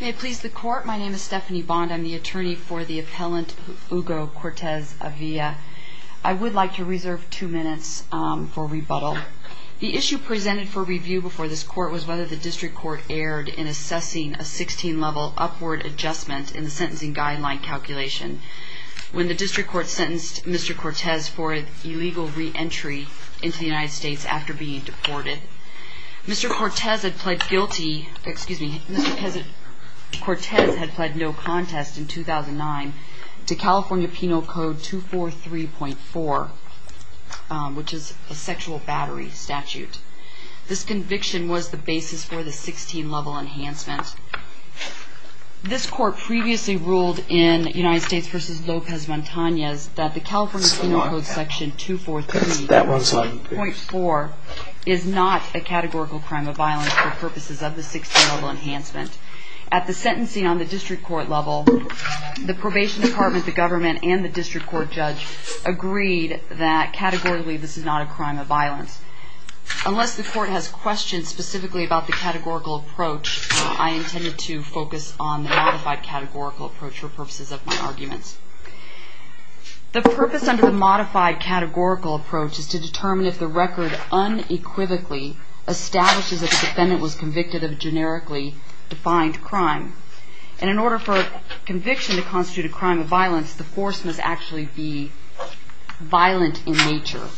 May it please the Court, my name is Stephanie Bond. I'm the attorney for the appellant Hugo Cortez-Avila. I would like to reserve two minutes for rebuttal. The issue presented for review before this Court was whether the District Court erred in assessing a 16-level upward adjustment in the sentencing guideline calculation when the District Court sentenced Mr. Cortez for illegal re-entry into the United States after being deported. Mr. Cortez had pled guilty, excuse me, Mr. Cortez had pled no contest in 2009 to California Penal Code 243.4 which is a sexual battery statute. This conviction was the basis for the 16-level enhancement. This Court previously ruled in United States v. Lopez-Montanez that the California Penal Code Section 243.4 is not a categorical crime of violence for purposes of the 16-level enhancement. At the sentencing on the District Court level, the Probation Department, the Government, and the District Court Judge agreed that categorically this is not a crime of violence. Unless the Court has questions specifically about the categorical approach, I intended to focus on the modified categorical approach for purposes of my arguments. The purpose under the modified categorical approach is to determine if the record unequivocally establishes that the defendant was convicted of a generically defined crime. And in order for a conviction to constitute a crime of violence, the force must actually be violent in nature.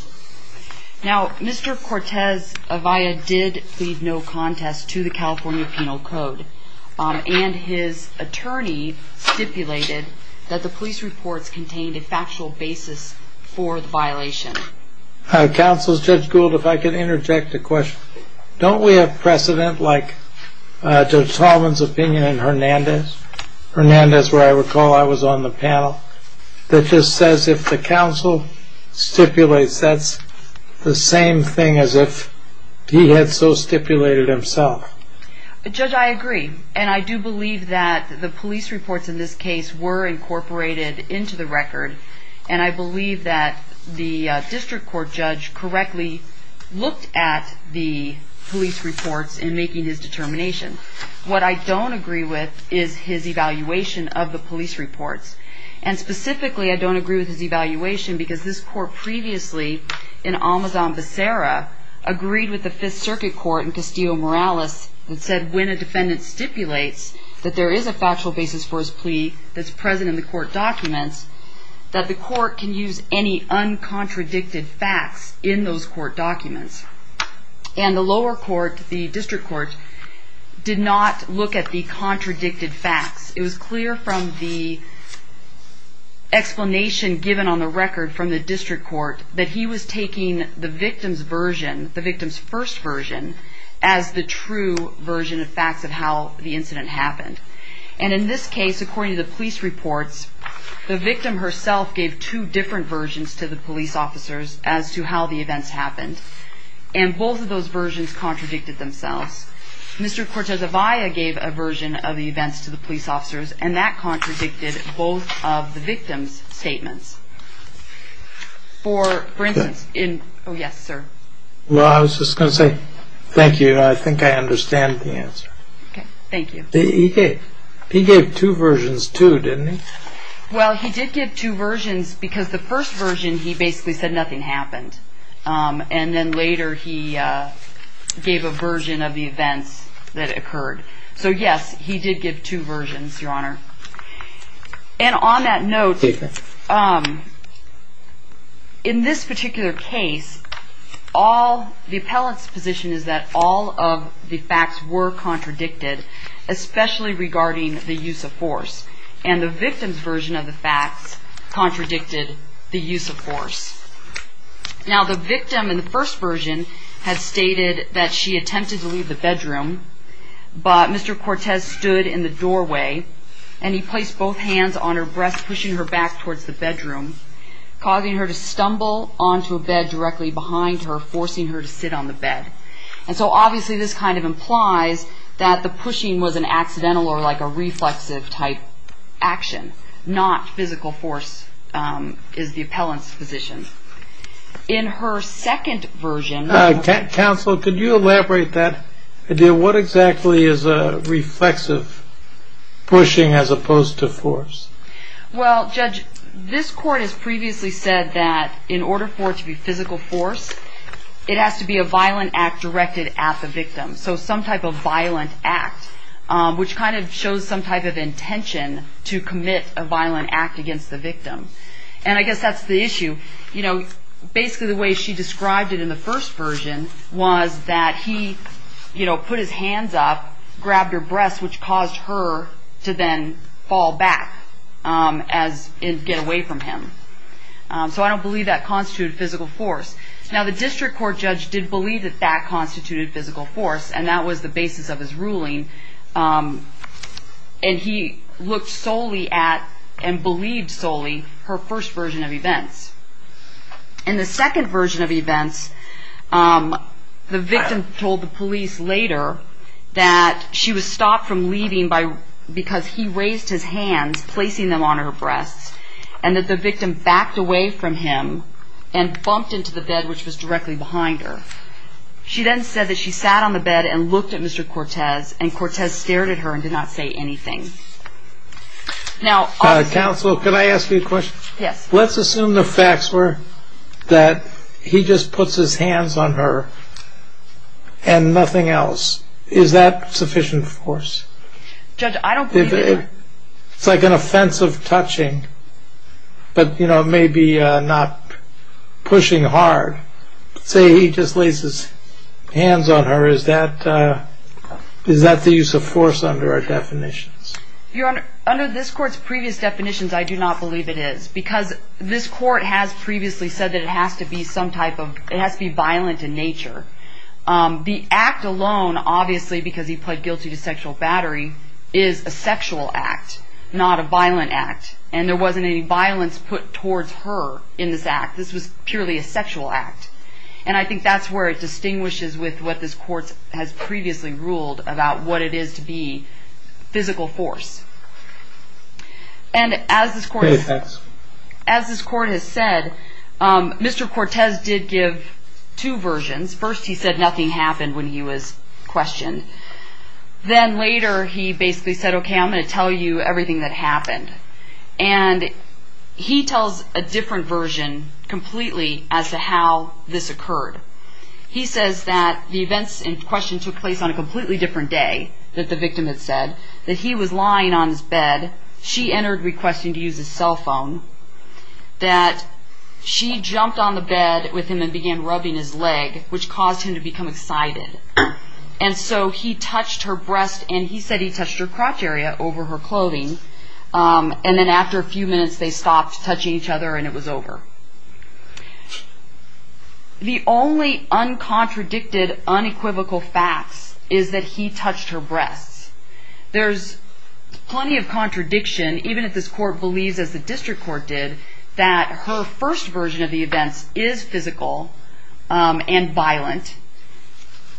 Now, Mr. Cortez-Avaya did plead no contest to the California Penal Code and his attorney stipulated that the police reports contained a factual basis for the violation. Counsel, Judge Gould, if I could interject a question. Don't we have precedent like Judge Tallman's opinion in Hernandez? Hernandez, where I recall I was on the panel, that just says if the counsel stipulates, that's the same thing as if he had so stipulated himself. Judge, I agree. And I do believe that the police reports in this case were incorporated into the record. And I believe that the District Court Judge correctly looked at the police reports in making his determination. What I don't agree with is his evaluation of the police reports. And specifically, I don't agree with his evaluation because this court previously in Amazon Becerra agreed with the Fifth Circuit Court in Castillo-Morales that said when a defendant stipulates that there is a factual basis for his plea that's present in the court documents, that the court can use any uncontradicted facts in those court documents. And the lower court, the District Court, did not look at the contradicted facts. It was clear from the explanation given on the record from the District Court that he was taking the victim's version, the victim's first version, as the true version of facts of how the incident happened. And in this case, according to the police reports, the victim herself gave two different versions to the police officers as to how the events happened. And both of those versions contradicted themselves. Mr. Cortez-Avaya gave a version of the events to the police officers, and that contradicted both of the victim's statements. For instance, in – oh, yes, sir. Well, I was just going to say thank you. I think I understand the answer. Okay, thank you. He gave two versions, too, didn't he? Well, he did give two versions because the first version, he basically said nothing happened. And then later he gave a version of the events that occurred. So, yes, he did give two versions, Your Honor. And on that note, in this particular case, all – the appellant's position is that all of the facts were contradicted, especially regarding the use of force. And the victim's version of the facts contradicted the use of force. Now, the victim in the first version had stated that she attempted to leave the bedroom, but Mr. Cortez stood in the doorway, and he placed both hands on her breasts, pushing her back towards the bedroom, causing her to stumble onto a bed directly behind her, forcing her to sit on the bed. And so, obviously, this kind of implies that the pushing was an accidental or like a reflexive type action, not physical force is the appellant's position. In her second version – Counsel, could you elaborate that? What exactly is a reflexive pushing as opposed to force? Well, Judge, this court has previously said that in order for it to be physical force, it has to be a violent act directed at the victim, so some type of violent act, which kind of shows some type of intention to commit a violent act against the victim. And I guess that's the issue. You know, basically the way she described it in the first version was that he, you know, put his hands up, grabbed her breasts, which caused her to then fall back as – and get away from him. So I don't believe that constituted physical force. Now, the district court judge did believe that that constituted physical force, and that was the basis of his ruling. And he looked solely at and believed solely her first version of events. In the second version of events, the victim told the police later that she was stopped from leaving because he raised his hands, placing them on her breasts, and that the victim backed away from him and bumped into the bed, which was directly behind her. She then said that she sat on the bed and looked at Mr. Cortez, and Cortez stared at her and did not say anything. Now, obviously – Counsel, can I ask you a question? Yes. Let's assume the facts were that he just puts his hands on her and nothing else. Is that sufficient force? Judge, I don't believe that. It's like an offense of touching, but, you know, maybe not pushing hard. Let's say he just lays his hands on her. Is that the use of force under our definitions? Your Honor, under this court's previous definitions, I do not believe it is, because this court has previously said that it has to be some type of – it has to be violent in nature. The act alone, obviously, because he pled guilty to sexual battery, is a sexual act, not a violent act, and there wasn't any violence put towards her in this act. This was purely a sexual act, and I think that's where it distinguishes with what this court has previously ruled about what it is to be physical force. And as this court has said, Mr. Cortez did give two versions. First, he said nothing happened when he was questioned. Then later, he basically said, okay, I'm going to tell you everything that happened. And he tells a different version completely as to how this occurred. He says that the events in question took place on a completely different day, that the victim had said, that he was lying on his bed, she entered requesting to use his cell phone, that she jumped on the bed with him and began rubbing his leg, which caused him to become excited. And so he touched her breast, and he said he touched her crotch area over her clothing, and then after a few minutes, they stopped touching each other and it was over. The only uncontradicted, unequivocal facts is that he touched her breasts. There's plenty of contradiction, even if this court believes, as the district court did, that her first version of the events is physical and violent.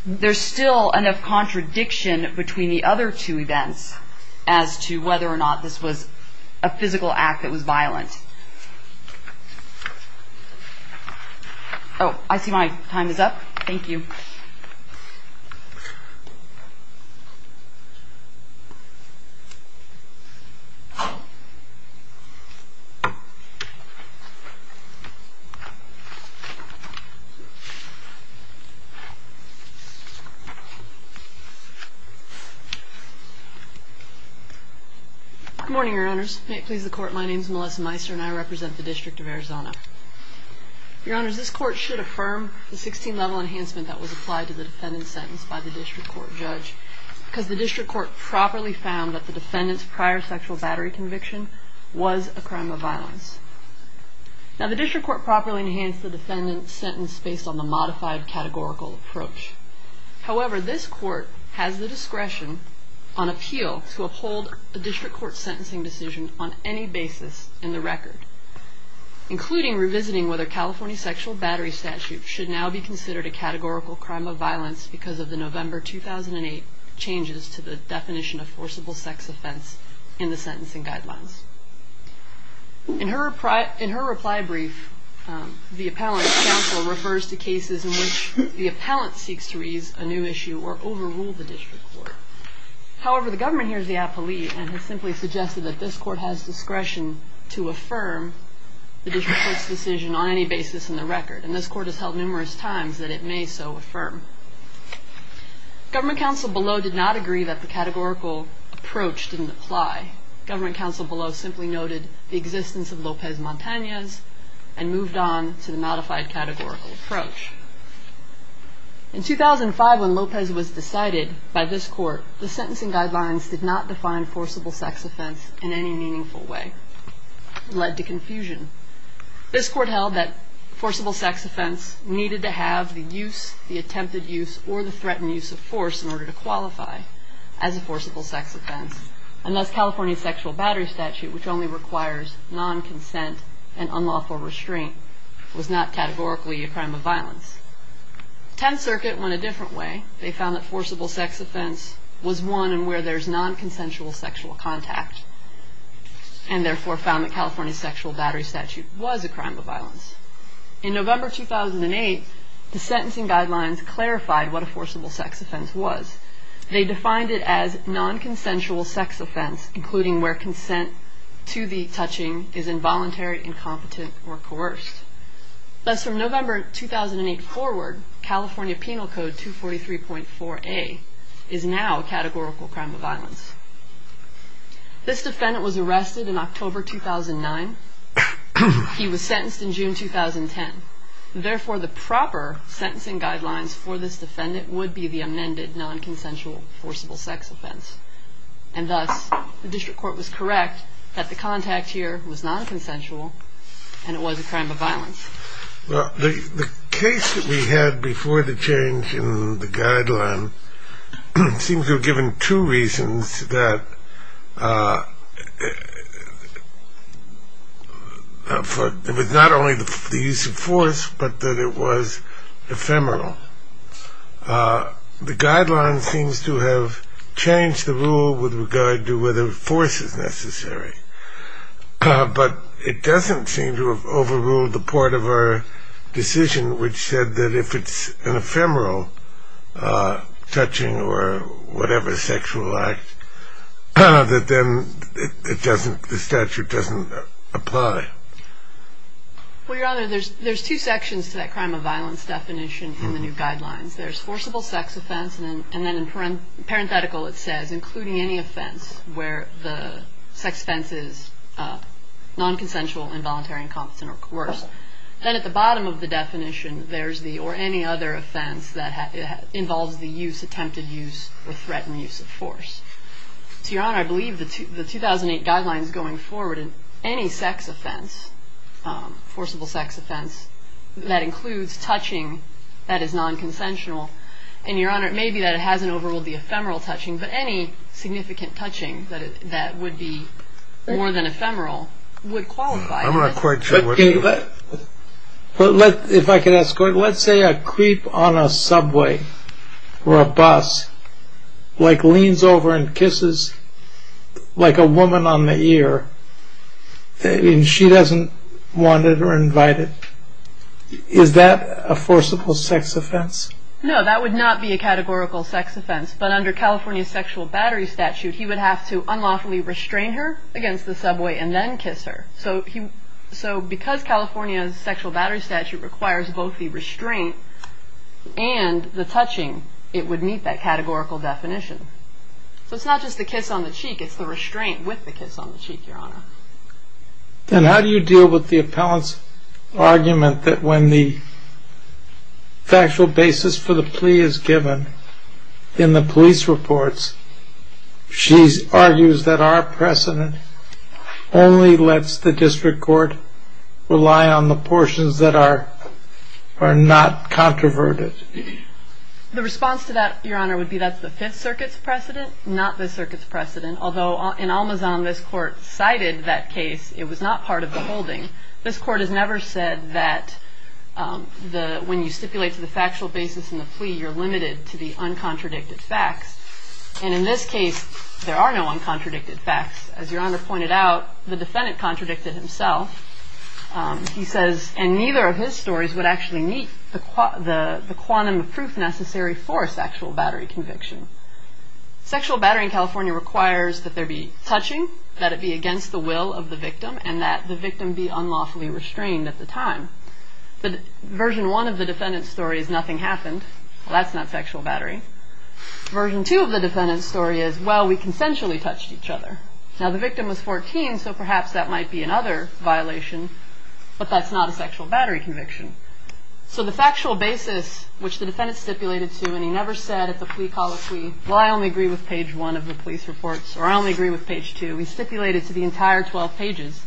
There's still enough contradiction between the other two events as to whether or not this was a physical act that was violent. Oh, I see my time is up. Thank you. Good morning, Your Honors. May it please the Court, my name is Melissa Meiser and I represent the District of Arizona. Your Honors, this court should affirm the 16-level enhancement that was applied to the defendant's sentence by the district court judge, because the district court properly found that the defendant's prior sexual battery conviction was a crime of violence. Now, the district court properly enhanced the defendant's sentence based on the modified categorical approach. However, this court has the discretion on appeal to uphold a district court sentencing decision on any basis in the record, including revisiting whether California's sexual battery statute should now be considered a categorical crime of violence because of the November 2008 changes to the definition of forcible sex offense in the sentencing guidelines. In her reply brief, the appellant's counsel refers to cases in which the appellant seeks to raise a new issue or overrule the district court. However, the government hears the appellee and has simply suggested that this court has discretion to affirm the district court's decision on any basis in the record. And this court has held numerous times that it may so affirm. Government counsel below did not agree that the categorical approach didn't apply. Government counsel below simply noted the existence of Lopez Montanez and moved on to the modified categorical approach. In 2005, when Lopez was decided by this court, the sentencing guidelines did not define forcible sex offense in any meaningful way. It led to confusion. This court held that forcible sex offense needed to have the use, the attempted use, or the threatened use of force in order to qualify as a forcible sex offense, unless California's sexual battery statute, which only requires non-consent and unlawful restraint, was not categorically a crime of violence. Tenth Circuit went a different way. They found that forcible sex offense was one in where there's non-consensual sexual contact, and therefore found that California's sexual battery statute was a crime of violence. In November 2008, the sentencing guidelines clarified what a forcible sex offense was. They defined it as non-consensual sex offense, including where consent to the touching is involuntary, incompetent, or coerced. Thus, from November 2008 forward, California Penal Code 243.4a is now a categorical crime of violence. This defendant was arrested in October 2009. He was sentenced in June 2010. Therefore, the proper sentencing guidelines for this defendant would be the amended non-consensual forcible sex offense. And thus, the district court was correct that the contact here was non-consensual, and it was a crime of violence. Well, the case that we had before the change in the guideline seems to have given two reasons that it was not only the use of force, but that it was ephemeral. The guideline seems to have changed the rule with regard to whether force is necessary. But it doesn't seem to have overruled the part of our decision which said that if it's an ephemeral touching or whatever sexual act, that then the statute doesn't apply. Well, Your Honor, there's two sections to that crime of violence definition in the new guidelines. There's forcible sex offense, and then in parenthetical it says, including any offense where the sex offense is non-consensual, involuntary, incompetent, or coerced. Then at the bottom of the definition, there's the or any other offense that involves the use, attempted use, or threatened use of force. To Your Honor, I believe the 2008 guidelines going forward, any sex offense, forcible sex offense, that includes touching that is non-consensual. And Your Honor, it may be that it hasn't overruled the ephemeral touching, but any significant touching that would be more than ephemeral would qualify. I'm not quite sure what you mean. Let's say a creep on a subway or a bus leans over and kisses a woman on the ear, and she doesn't want it or invite it. Is that a forcible sex offense? No, that would not be a categorical sex offense. But under California's sexual battery statute, he would have to unlawfully restrain her against the subway and then kiss her. So because California's sexual battery statute requires both the restraint and the touching, it would meet that categorical definition. So it's not just the kiss on the cheek, it's the restraint with the kiss on the cheek, Your Honor. Then how do you deal with the appellant's argument that when the factual basis for the plea is given, in the police reports, she argues that our precedent only lets the district court rely on the portions that are not controverted? The response to that, Your Honor, would be that's the Fifth Circuit's precedent, not this circuit's precedent. Although in Almazan, this court cited that case, it was not part of the holding. This court has never said that when you stipulate to the factual basis in the plea, you're limited to the uncontradicted facts. And in this case, there are no uncontradicted facts. As Your Honor pointed out, the defendant contradicted himself. He says, and neither of his stories would actually meet the quantum of proof necessary for a sexual battery conviction. Sexual battery in California requires that there be touching, that it be against the will of the victim, and that the victim be unlawfully restrained at the time. Version one of the defendant's story is nothing happened. Well, that's not sexual battery. Version two of the defendant's story is, well, we consensually touched each other. Now, the victim was 14, so perhaps that might be another violation, but that's not a sexual battery conviction. So the factual basis, which the defendant stipulated to, and he never said at the plea call, well, I only agree with page one of the police reports, or I only agree with page two, he stipulated to the entire 12 pages.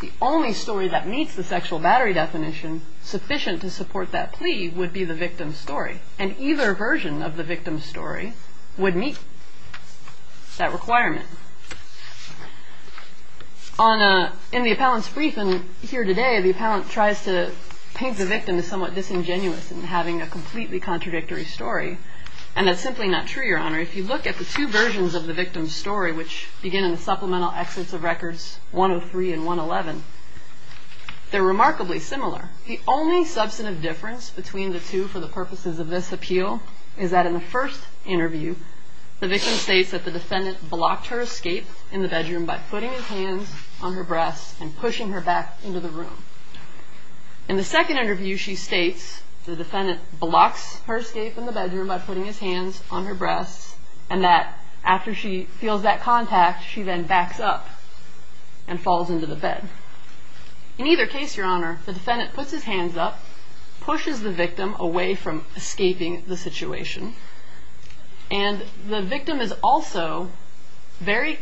The only story that meets the sexual battery definition sufficient to support that plea would be the victim's story. And either version of the victim's story would meet that requirement. In the appellant's brief, and here today, the appellant tries to paint the victim as somewhat disingenuous in having a completely contradictory story, and that's simply not true, Your Honor. If you look at the two versions of the victim's story, which begin in the supplemental exits of records 103 and 111, they're remarkably similar. The only substantive difference between the two for the purposes of this appeal is that in the first interview, the victim states that the defendant blocked her escape in the bedroom by putting his hands on her breasts and pushing her back into the room. In the second interview, she states the defendant blocks her escape in the bedroom by putting his hands on her breasts, and that after she feels that contact, she then backs up and falls into the bed. In either case, Your Honor, the defendant puts his hands up, pushes the victim away from escaping the situation, and the victim is also very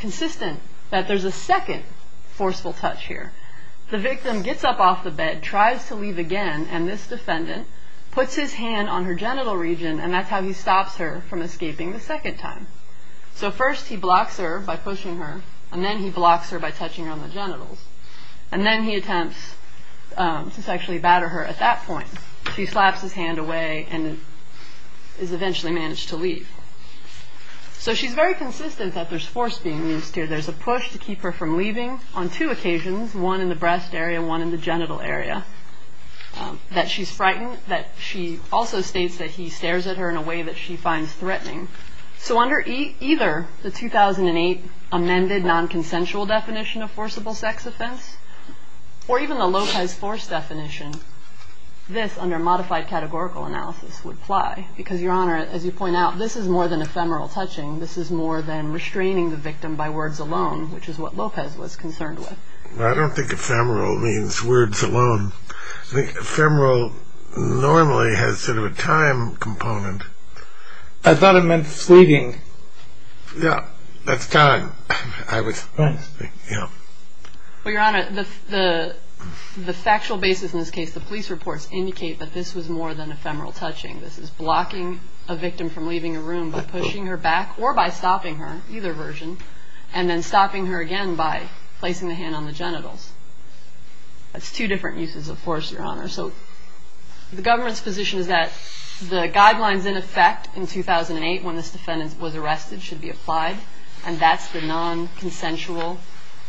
consistent that there's a second forceful touch here. The victim gets up off the bed, tries to leave again, and this defendant puts his hand on her genital region, and that's how he stops her from escaping the second time. So first he blocks her by pushing her, and then he blocks her by touching her on the genitals, and then he attempts to sexually batter her at that point. She slaps his hand away and is eventually managed to leave. So she's very consistent that there's force being used here. There's a push to keep her from leaving on two occasions, one in the breast area, one in the genital area, that she's frightened, that she also states that he stares at her in a way that she finds threatening. So under either the 2008 amended nonconsensual definition of forcible sex offense, or even the Lopez force definition, this, under modified categorical analysis, would apply. Because, Your Honor, as you point out, this is more than ephemeral touching. This is more than restraining the victim by words alone, which is what Lopez was concerned with. Well, I don't think ephemeral means words alone. I think ephemeral normally has sort of a time component. I thought it meant fleeting. Yeah, that's kind of what I was thinking, yeah. Well, Your Honor, the factual basis in this case, the police reports indicate that this was more than ephemeral touching. This is blocking a victim from leaving a room by pushing her back or by stopping her, either version, and then stopping her again by placing the hand on the genitals. That's two different uses of force, Your Honor. So the government's position is that the guidelines in effect in 2008 when this defendant was arrested should be applied, and that's the non-consensual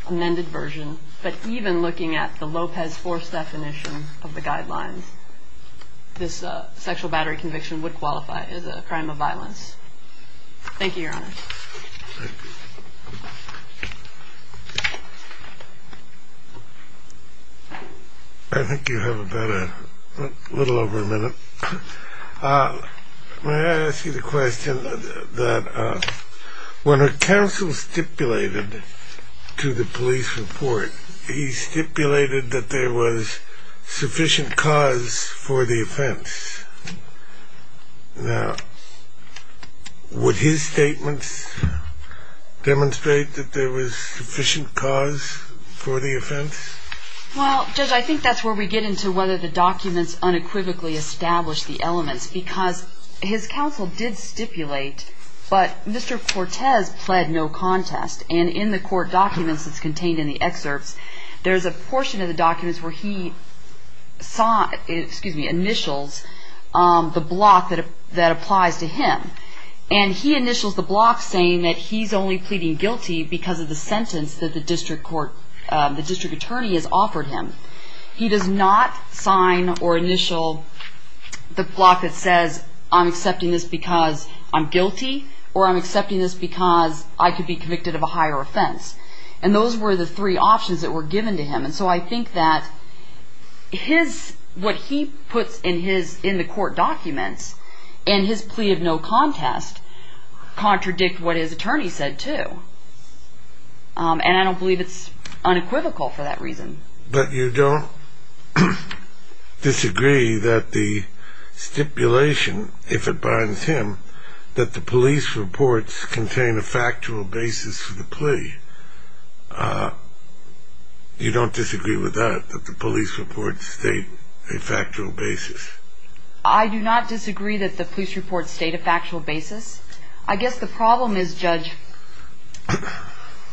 amended version. But even looking at the Lopez force definition of the guidelines, this sexual battery conviction would qualify as a crime of violence. Thank you, Your Honor. Thank you. I think you have about a little over a minute. May I ask you the question that when a counsel stipulated to the police report, he stipulated that there was sufficient cause for the offense. Now, would his statements demonstrate that there was sufficient cause for the offense? Well, Judge, I think that's where we get into whether the documents unequivocally establish the elements, because his counsel did stipulate, but Mr. Cortez pled no contest. And in the court documents that's contained in the excerpts, there's a portion of the documents where he initials the block that applies to him. And he initials the block saying that he's only pleading guilty because of the sentence that the district court, the district attorney has offered him. He does not sign or initial the block that says I'm accepting this because I'm guilty, or I'm accepting this because I could be convicted of a higher offense. And those were the three options that were given to him. And so I think that what he puts in the court documents in his plea of no contest contradict what his attorney said too. And I don't believe it's unequivocal for that reason. But you don't disagree that the stipulation, if it binds him, that the police reports contain a factual basis for the plea. You don't disagree with that, that the police reports state a factual basis? I do not disagree that the police reports state a factual basis. I guess the problem is, Judge,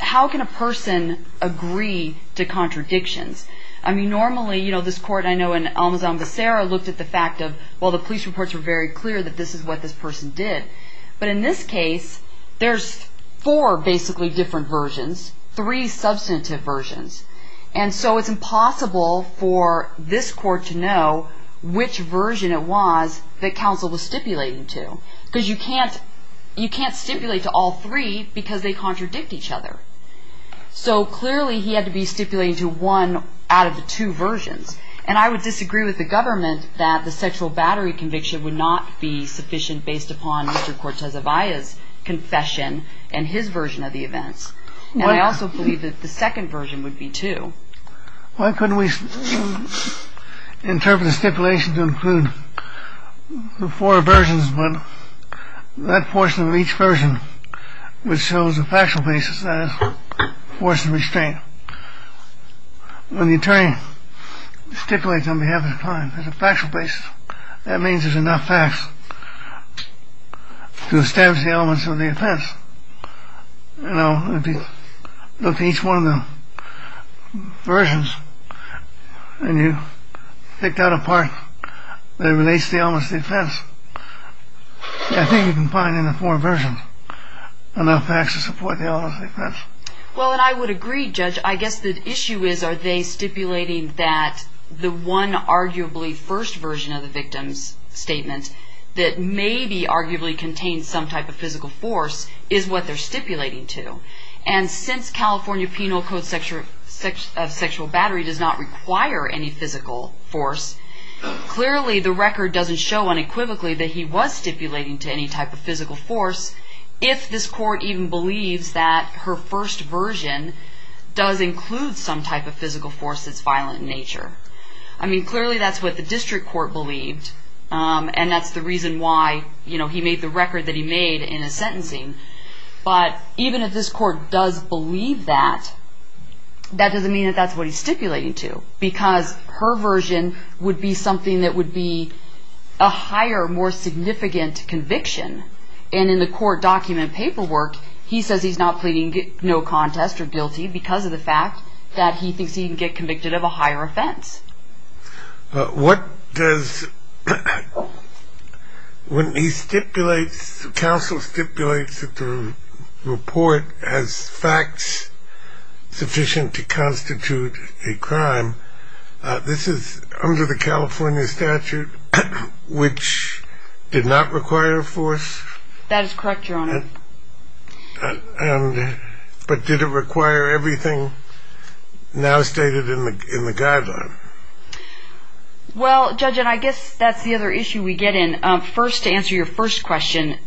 how can a person agree to contradictions? I mean, normally, you know, this court, I know, in Almazan-Vacera, looked at the fact of, well, the police reports were very clear that this is what this person did. But in this case, there's four basically different versions, three substantive versions. And so it's impossible for this court to know which version it was that counsel was stipulating to. Because you can't stipulate to all three because they contradict each other. So clearly he had to be stipulating to one out of the two versions. And I would disagree with the government that the sexual battery conviction would not be sufficient based upon Mr. Cortez-Avaya's confession and his version of the events. And I also believe that the second version would be, too. Why couldn't we interpret the stipulation to include the four versions, but that portion of each version which shows a factual basis, that is, force and restraint. When the attorney stipulates on behalf of the client, there's a factual basis. That means there's enough facts to establish the elements of the offense. You know, if you look at each one of the versions and you pick out a part that relates to the elements of the offense, I think you can find in the four versions enough facts to support the elements of the offense. Well, and I would agree, Judge. I guess the issue is are they stipulating that the one arguably first version of the victim's statement that maybe arguably contains some type of physical force is what they're stipulating to. And since California Penal Code sexual battery does not require any physical force, clearly the record doesn't show unequivocally that he was stipulating to any type of physical force. If this court even believes that her first version does include some type of physical force that's violent in nature. I mean, clearly that's what the district court believed. And that's the reason why, you know, he made the record that he made in his sentencing. But even if this court does believe that, that doesn't mean that that's what he's stipulating to. Because her version would be something that would be a higher, more significant conviction. And in the court document paperwork, he says he's not pleading no contest or guilty because of the fact that he thinks he can get convicted of a higher offense. What does when he stipulates, counsel stipulates that the report has facts sufficient to constitute a crime. This is under the California statute, which did not require force. That is correct, Your Honor. But did it require everything now stated in the guideline? Well, Judge, and I guess that's the other issue we get in. First, to answer your first question,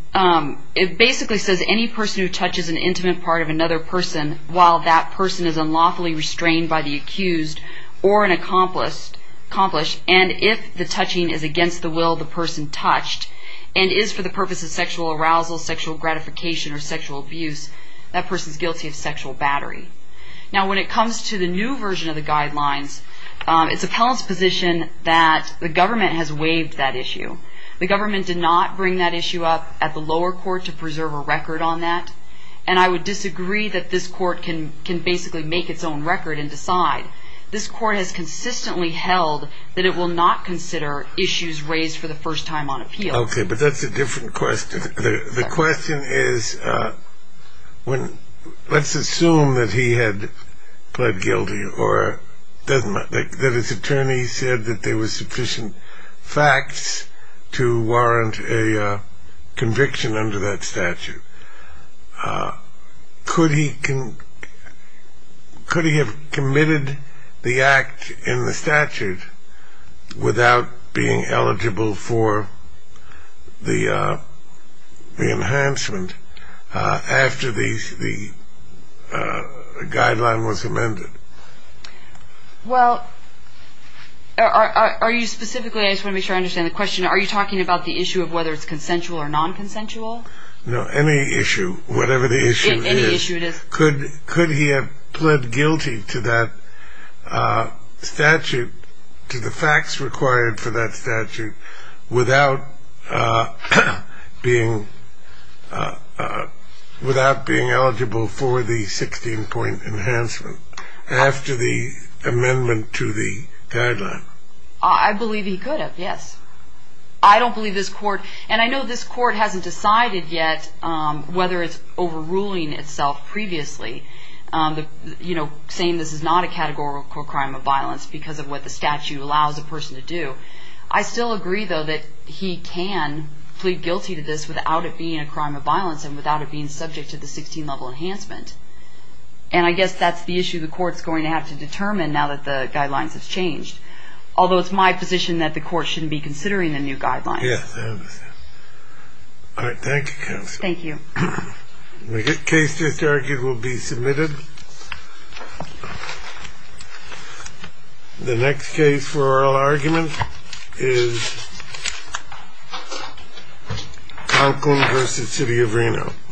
it basically says any person who touches an intimate part of another person, while that person is unlawfully restrained by the accused or an accomplice, and if the touching is against the will of the person touched and is for the purpose of sexual arousal, sexual gratification or sexual abuse, that person is guilty of sexual battery. Now, when it comes to the new version of the guidelines, it's appellant's position that the government has waived that issue. The government did not bring that issue up at the lower court to preserve a record on that. And I would disagree that this court can basically make its own record and decide. This court has consistently held that it will not consider issues raised for the first time on appeal. Okay, but that's a different question. The question is, let's assume that he had pled guilty or that his attorney said that there was sufficient facts to warrant a conviction under that statute. Could he have committed the act in the statute without being eligible for the enhancement after the guideline was amended? Well, are you specifically, I just want to make sure I understand the question, are you talking about the issue of whether it's consensual or non-consensual? No, any issue, whatever the issue is. Any issue it is. Could he have pled guilty to that statute, to the facts required for that statute, without being eligible for the 16-point enhancement after the amendment to the guideline? I believe he could have, yes. I don't believe this court, and I know this court hasn't decided yet whether it's overruling itself previously, saying this is not a categorical crime of violence because of what the statute allows a person to do. I still agree, though, that he can plead guilty to this without it being a crime of violence and without it being subject to the 16-level enhancement. And I guess that's the issue the court's going to have to determine now that the guidelines have changed. Although it's my position that the court shouldn't be considering the new guidelines. Yes, I understand. All right. Thank you, counsel. Thank you. The case that's argued will be submitted. The next case for oral argument is Conklin v. City of Reno.